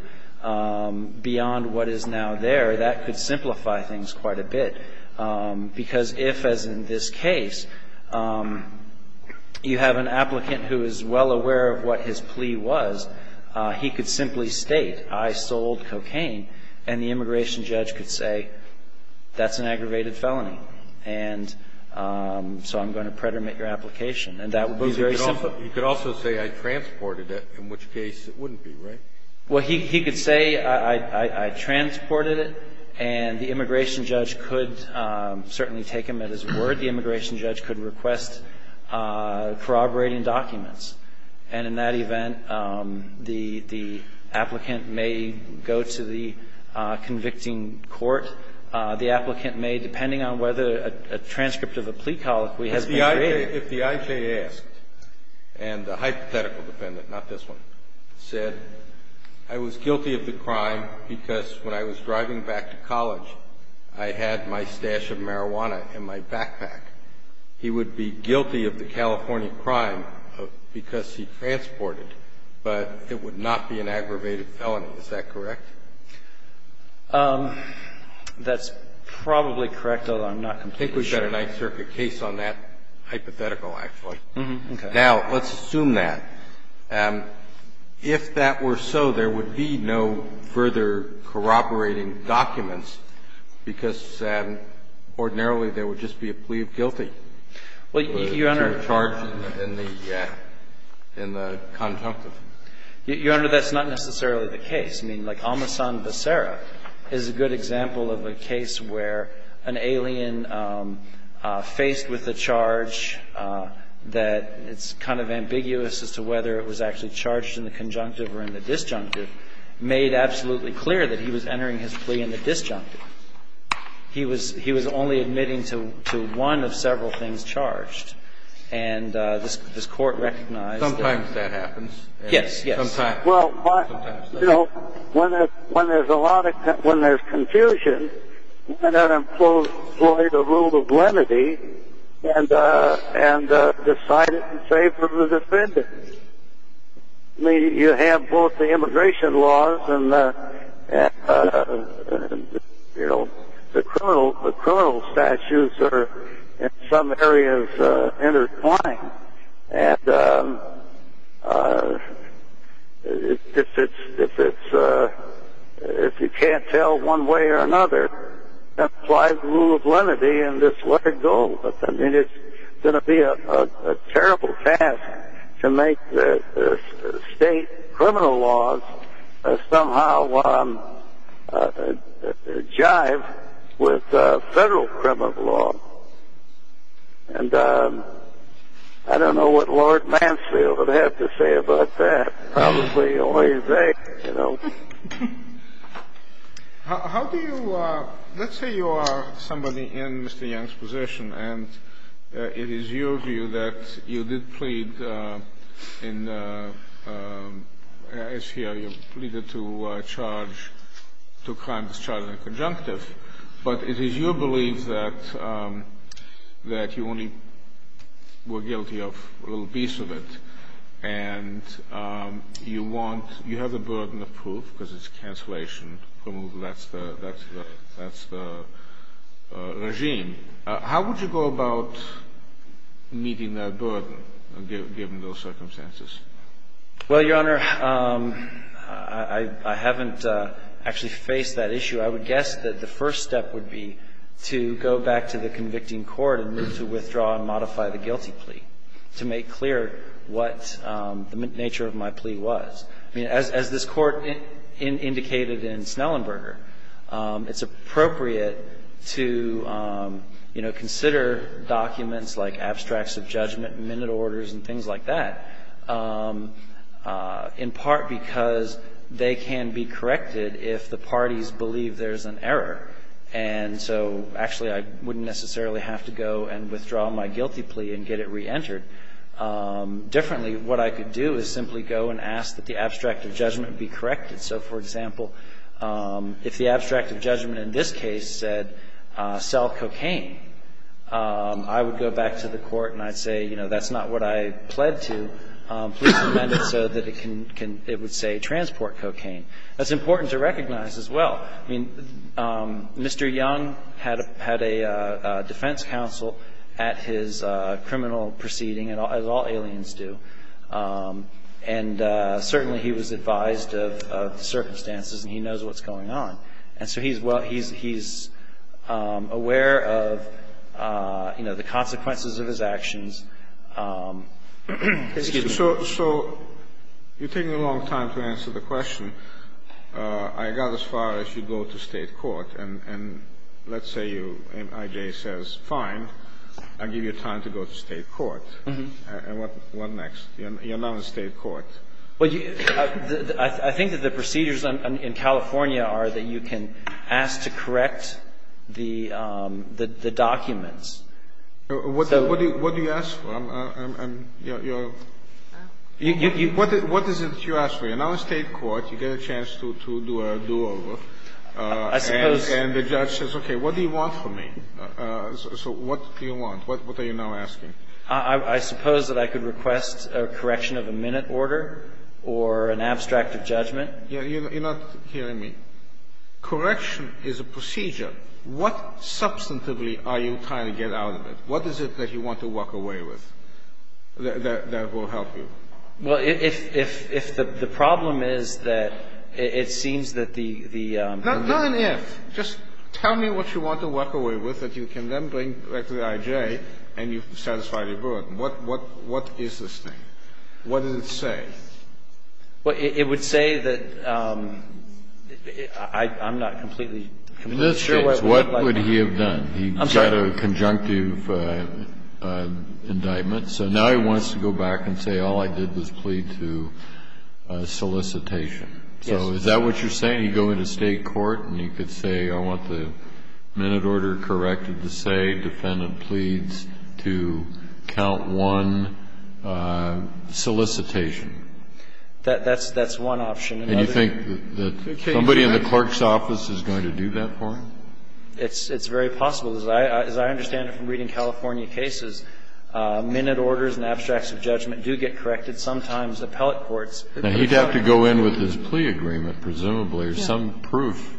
beyond what is now there, that could simplify things quite a bit. Because if, as in this case, you have an applicant who is well aware of what his plea was, he could simply state, I sold cocaine, and the immigration judge could say, that's an aggravated felony. And so I'm going to predominate your application. And that would be very simple. But you could also say, I transported it, in which case it wouldn't be, right? Well, he could say, I transported it, and the immigration judge could certainly take him at his word. The immigration judge could request corroborating documents. And in that event, the applicant may go to the convicting court. The applicant may, depending on whether a transcript of a plea colloquy has been graded. If the IJ asked, and the hypothetical defendant, not this one, said, I was guilty of the crime because when I was driving back to college, I had my stash of marijuana in my backpack, he would be guilty of the California crime because he transported it, but it would not be an aggravated felony. Is that correct? That's probably correct, although I'm not completely sure. I think we've got a Ninth Circuit case on that hypothetical, actually. Okay. Now, let's assume that. If that were so, there would be no further corroborating documents because ordinarily there would just be a plea of guilty. Well, Your Honor. To a charge in the conjunctive. Your Honor, that's not necessarily the case. I mean, like Amasan Becerra is a good example of a case where an alien faced with a charge that it's kind of ambiguous as to whether it was actually charged in the conjunctive or in the disjunctive made absolutely clear that he was entering his plea in the disjunctive. He was only admitting to one of several things charged. And this Court recognized that. Sometimes that happens. Yes, yes. Sometimes. Well, you know, when there's confusion, why not employ the rule of lenity and decide it in favor of the defendant? I mean, you have both the immigration laws and, you know, the criminal statutes are in some areas intertwined. And if you can't tell one way or another, then apply the rule of lenity and just let it go. I mean, it's going to be a terrible task to make the state criminal laws somehow jive with federal criminal law. And I don't know what Lord Mansfield would have to say about that. Probably the only thing, you know. How do you – let's say you are somebody in Mr. Young's position, and it is your view that you did plead in – as here you pleaded to charge – to crimes charged in the conjunctive. But it is your belief that you only were guilty of a little piece of it. And you want – you have the burden of proof because it's cancellation. That's the regime. How would you go about meeting that burden, given those circumstances? Well, Your Honor, I haven't actually faced that issue. I would guess that the first step would be to go back to the convicting court and move to withdraw and modify the guilty plea to make clear what the nature of my plea was. I mean, as this Court indicated in Snellenberger, it's appropriate to, you know, consider documents like abstracts of judgment and minute orders and things like that, in part because they can be corrected if the parties believe there's an error. And so, actually, I wouldn't necessarily have to go and withdraw my guilty plea and get it reentered. Differently, what I could do is simply go and ask that the abstract of judgment be corrected. So, for example, if the abstract of judgment in this case said, sell cocaine, I would go back to the court and I'd say, you know, that's not what I pled to. Please amend it so that it would say transport cocaine. That's important to recognize as well. I mean, Mr. Young had a defense counsel at his criminal proceeding, as all aliens do, and certainly he was advised of the circumstances and he knows what's going on. And so he's aware of, you know, the consequences of his actions. Excuse me. So you're taking a long time to answer the question. I got as far as you go to state court, and let's say you, and I.J. says, fine, I'll give you time to go to state court. And what next? You're not in state court. Well, I think that the procedures in California are that you can ask to correct the documents. What do you ask for? What is it that you ask for? You're not in state court. You get a chance to do a do-over. I suppose. And the judge says, okay, what do you want from me? So what do you want? What are you now asking? I suppose that I could request a correction of a minute order or an abstract of judgment. You're not hearing me. Correction is a procedure. What substantively are you trying to get out of it? What is it that you want to walk away with that will help you? Well, if the problem is that it seems that the ---- Not an if. Just tell me what you want to walk away with that you can then bring back to the IJ and you've satisfied your burden. What is this thing? What does it say? Well, it would say that I'm not completely sure what it would look like. What would he have done? I'm sorry. He got a conjunctive indictment. So now he wants to go back and say all I did was plead to solicitation. Yes. So is that what you're saying? Can he go into state court and he could say, I want the minute order corrected to say defendant pleads to count one solicitation? That's one option. And you think that somebody in the clerk's office is going to do that for him? It's very possible. As I understand it from reading California cases, minute orders and abstracts of judgment do get corrected. Sometimes appellate courts ---- Now, he'd have to go in with his plea agreement, presumably, or some proof.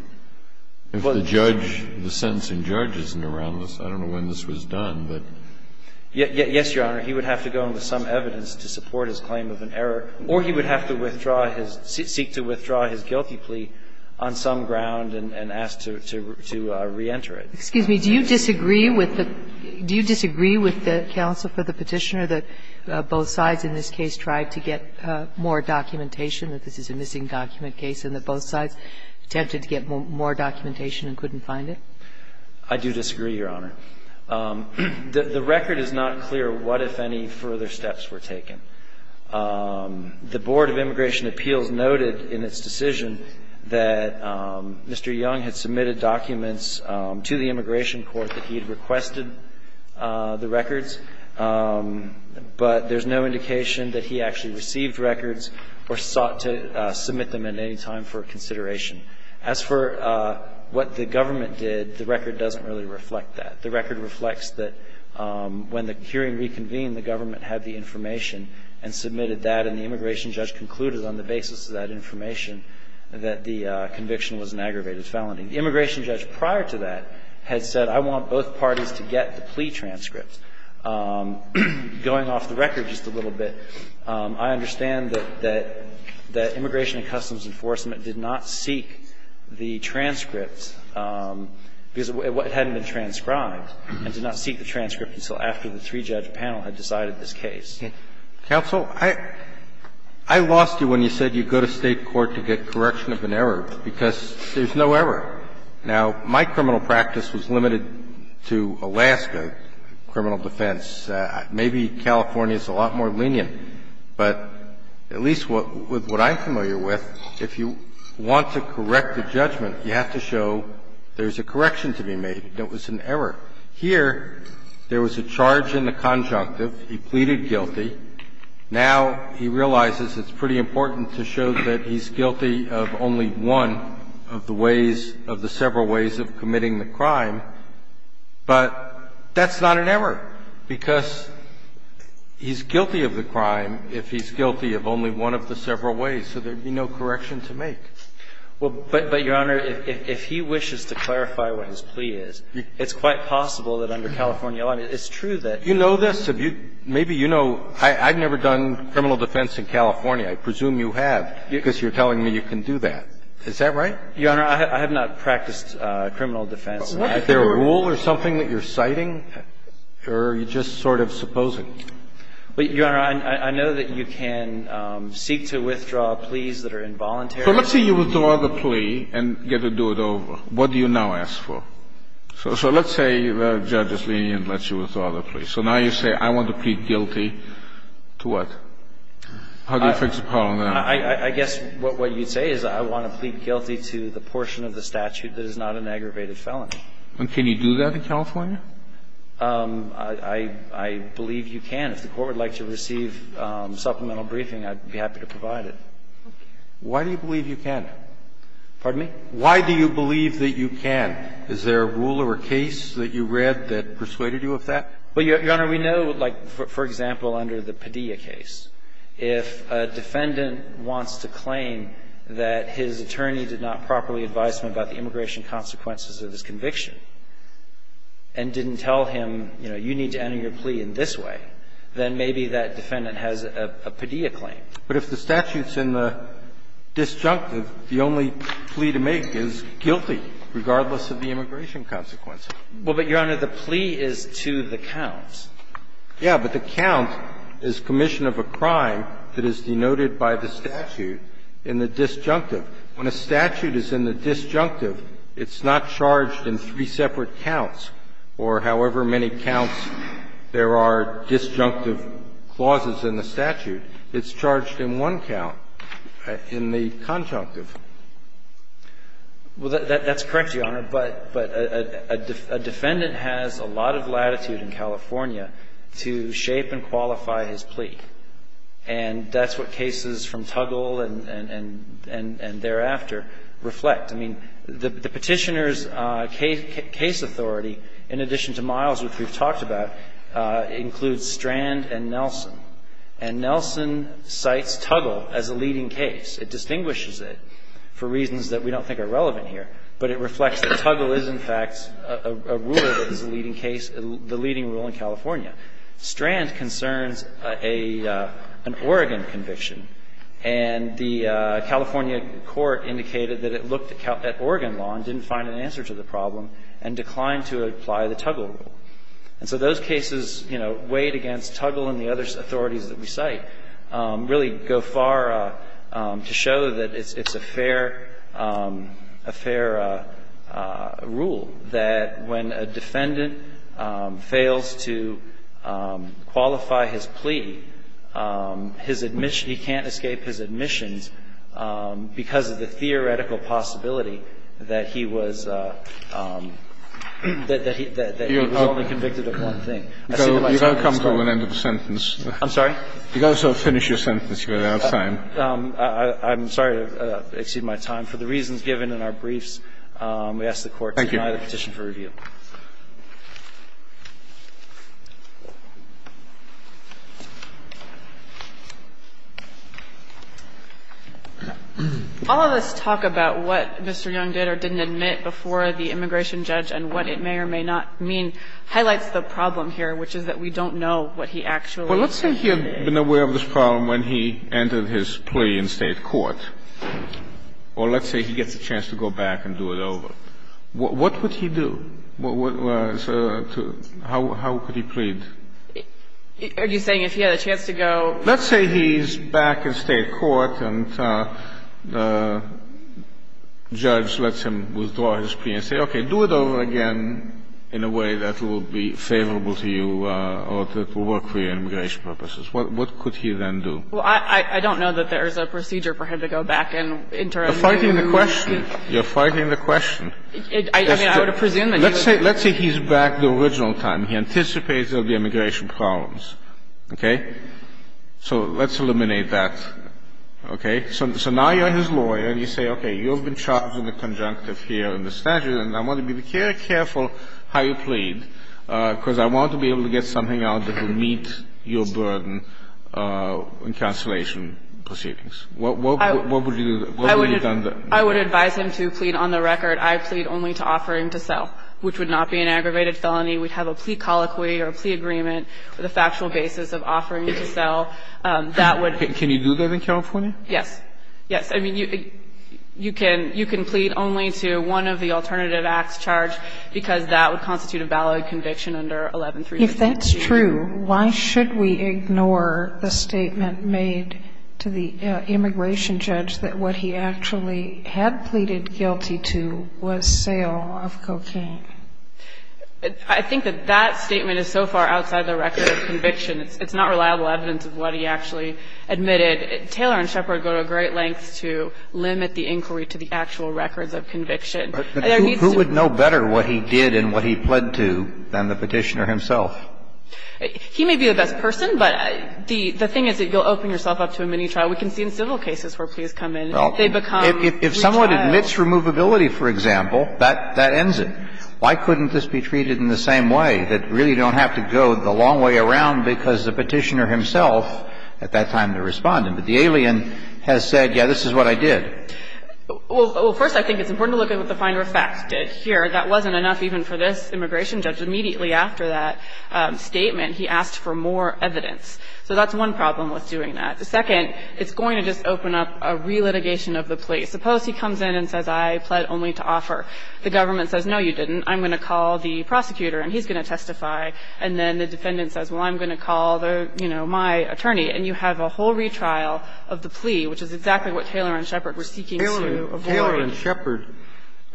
If the judge, the sentencing judge isn't around, I don't know when this was done, but ---- Yes, Your Honor. He would have to go in with some evidence to support his claim of an error. Or he would have to withdraw his, seek to withdraw his guilty plea on some ground and ask to reenter it. Excuse me. Do you disagree with the counsel for the Petitioner that both sides in this case tried to get more documentation, that this is a missing document case, and that both sides attempted to get more documentation and couldn't find it? I do disagree, Your Honor. The record is not clear what, if any, further steps were taken. The Board of Immigration Appeals noted in its decision that Mr. Young had submitted documents to the immigration court that he had requested the records, but there's no indication that he actually received records or sought to submit them at any time for consideration. As for what the government did, the record doesn't really reflect that. The record reflects that when the hearing reconvened, the government had the information and submitted that, and the immigration judge concluded on the basis of that information that the conviction was an aggravated felony. The immigration judge prior to that had said, I want both parties to get the plea transcripts. Going off the record just a little bit, I understand that the Immigration and Customs Enforcement did not seek the transcripts because it hadn't been transcribed and did not seek the transcript until after the three-judge panel had decided this case. Counsel, I lost you when you said you go to State court to get correction of an error because there's no error. Now, my criminal practice was limited to Alaska criminal defense. Maybe California is a lot more lenient. But at least with what I'm familiar with, if you want to correct a judgment, you have to show there's a correction to be made, that it was an error. Here, there was a charge in the conjunctive. He pleaded guilty. Now he realizes it's pretty important to show that he's guilty of only one of the ways of committing the crime. But that's not an error, because he's guilty of the crime if he's guilty of only one of the several ways, so there would be no correction to make. Well, but, Your Honor, if he wishes to clarify what his plea is, it's quite possible that under California law, it's true that you know this. Maybe you know. I've never done criminal defense in California. I presume you have because you're telling me you can do that. Is that right? Your Honor, I have not practiced criminal defense. Is there a rule or something that you're citing, or are you just sort of supposing? Your Honor, I know that you can seek to withdraw pleas that are involuntary. So let's say you withdraw the plea and get to do it over. What do you now ask for? So let's say the judge is lenient and lets you withdraw the plea. So now you say, I want to plead guilty to what? How do you fix the problem now? I guess what you'd say is I want to plead guilty to the portion of the statute that is not an aggravated felony. And can you do that in California? I believe you can. If the Court would like to receive supplemental briefing, I'd be happy to provide it. Why do you believe you can? Pardon me? Why do you believe that you can? Is there a rule or a case that you read that persuaded you of that? Well, Your Honor, we know, like, for example, under the Padilla case, if a defendant wants to claim that his attorney did not properly advise him about the immigration consequences of his conviction and didn't tell him, you know, you need to enter your plea in this way, then maybe that defendant has a Padilla claim. But if the statute's in the disjunctive, the only plea to make is guilty, regardless of the immigration consequences. Well, but, Your Honor, the plea is to the count. Yeah. But the count is commission of a crime that is denoted by the statute in the disjunctive. When a statute is in the disjunctive, it's not charged in three separate counts or however many counts there are disjunctive clauses in the statute. It's charged in one count, in the conjunctive. Well, that's correct, Your Honor. But a defendant has a lot of latitude in California to shape and qualify his plea. And that's what cases from Tuggle and thereafter reflect. I mean, the Petitioner's case authority, in addition to Miles, which we've talked about, includes Strand and Nelson. And Nelson cites Tuggle as a leading case. It distinguishes it for reasons that we don't think are relevant here. But it reflects that Tuggle is, in fact, a rule that is a leading case, the leading rule in California. Strand concerns an Oregon conviction. And the California court indicated that it looked at Oregon law and didn't find an answer to the problem and declined to apply the Tuggle rule. And so those cases, you know, weighed against Tuggle and the other authorities that we cite, really go far to show that it's a fair rule, that when a defendant fails to qualify his plea, his admission, he can't escape his admissions because of the theoretical possibility that he was only convicted of one thing. I see the light's on. I'm sorry. You've got to finish your sentence. You don't have time. I'm sorry to exceed my time. For the reasons given in our briefs, we ask the Court to deny the petition for review. Thank you. All of this talk about what Mr. Young did or didn't admit before the immigration judge, and what it may or may not mean, highlights the problem here, which is that we don't know what he actually admitted. Well, let's say he had been aware of this problem when he entered his plea in State court. Or let's say he gets a chance to go back and do it over. What would he do? How could he plead? Are you saying if he had a chance to go? Let's say he's back in State court and the judge lets him withdraw his plea and say, okay, do it over again in a way that will be favorable to you or that will work for your immigration purposes. What could he then do? Well, I don't know that there's a procedure for him to go back and interrogate you. You're fighting the question. You're fighting the question. I mean, I would presume that he would. Let's say he's back the original time. He anticipates there will be immigration problems. Okay? So let's eliminate that. Okay? So now you're his lawyer and you say, okay, you've been charged in the conjunctive here in the statute and I want to be very careful how you plead because I want to be able to get something out that will meet your burden in cancellation proceedings. What would you do? What would you do? I would advise him to plead on the record. I plead only to offering to sell, which would not be an aggravated felony. We'd have a plea colloquy or a plea agreement with a factual basis of offering you to sell. That would be. Can you do that in California? Yes. Yes. I mean, you can plead only to one of the alternative acts charged because that would constitute a valid conviction under 113. If that's true, why should we ignore the statement made to the immigration judge that what he actually had pleaded guilty to was sale of cocaine? I think that that statement is so far outside the record of conviction. It's not reliable evidence of what he actually admitted. Taylor and Shepard go to great lengths to limit the inquiry to the actual records of conviction. There needs to be. But who would know better what he did and what he pled to than the Petitioner himself? He may be the best person, but the thing is that you'll open yourself up to a mini trial. We can see in civil cases where pleas come in. Well, if someone admits removability, for example, that ends it. Why couldn't this be treated in the same way, that you really don't have to go the long way around because the Petitioner himself at that time responded? But the alien has said, yes, this is what I did. Well, first, I think it's important to look at what the Finder of Facts did here. That wasn't enough even for this immigration judge. Immediately after that statement, he asked for more evidence. So that's one problem with doing that. The second, it's going to just open up a relitigation of the plea. Suppose he comes in and says, I pled only to offer. The government says, no, you didn't. I'm going to call the prosecutor and he's going to testify. And then the defendant says, well, I'm going to call the, you know, my attorney. And you have a whole retrial of the plea, which is exactly what Taylor and Shepard were seeking to avoid. Kennedy, Taylor and Shepard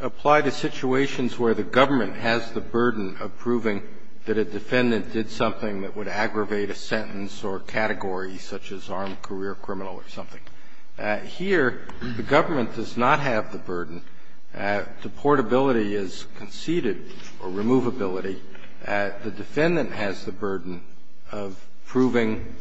apply to situations where the government has the burden of proving that a defendant did something that would aggravate a sentence or category such as armed career criminal or something. Here, the government does not have the burden. Deportability is conceded, or removability. The defendant has the burden of proving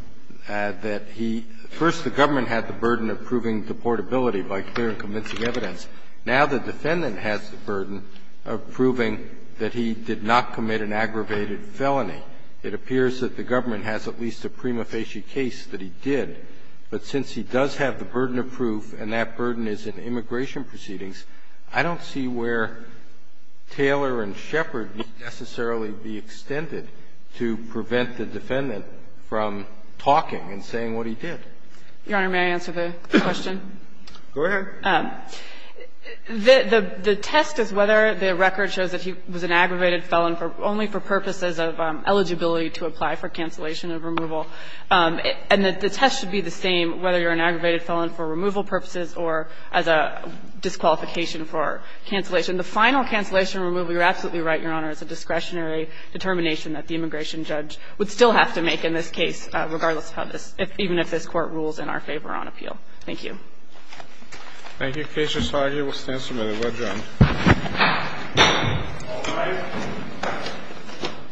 that he – first the government had the burden of proving deportability by clear and convincing evidence. Now the defendant has the burden of proving that he did not commit an aggravated felony. It appears that the government has at least a prima facie case that he did. But since he does have the burden of proof and that burden is in immigration proceedings, I don't see where Taylor and Shepard would necessarily be extended to prevent the defendant from talking and saying what he did. Your Honor, may I answer the question? Go ahead. The test is whether the record shows that he was an aggravated felon only for purposes of eligibility to apply for cancellation of removal. And the test should be the same, whether you're an aggravated felon for removal purposes or as a disqualification for cancellation. The final cancellation removal, you're absolutely right, Your Honor, is a discretionary determination that the immigration judge would still have to make in this case, regardless of how this – even if this Court rules in our favor on appeal. Thank you. Thank you. The case is argued. We'll stand for a minute. We'll adjourn. All rise.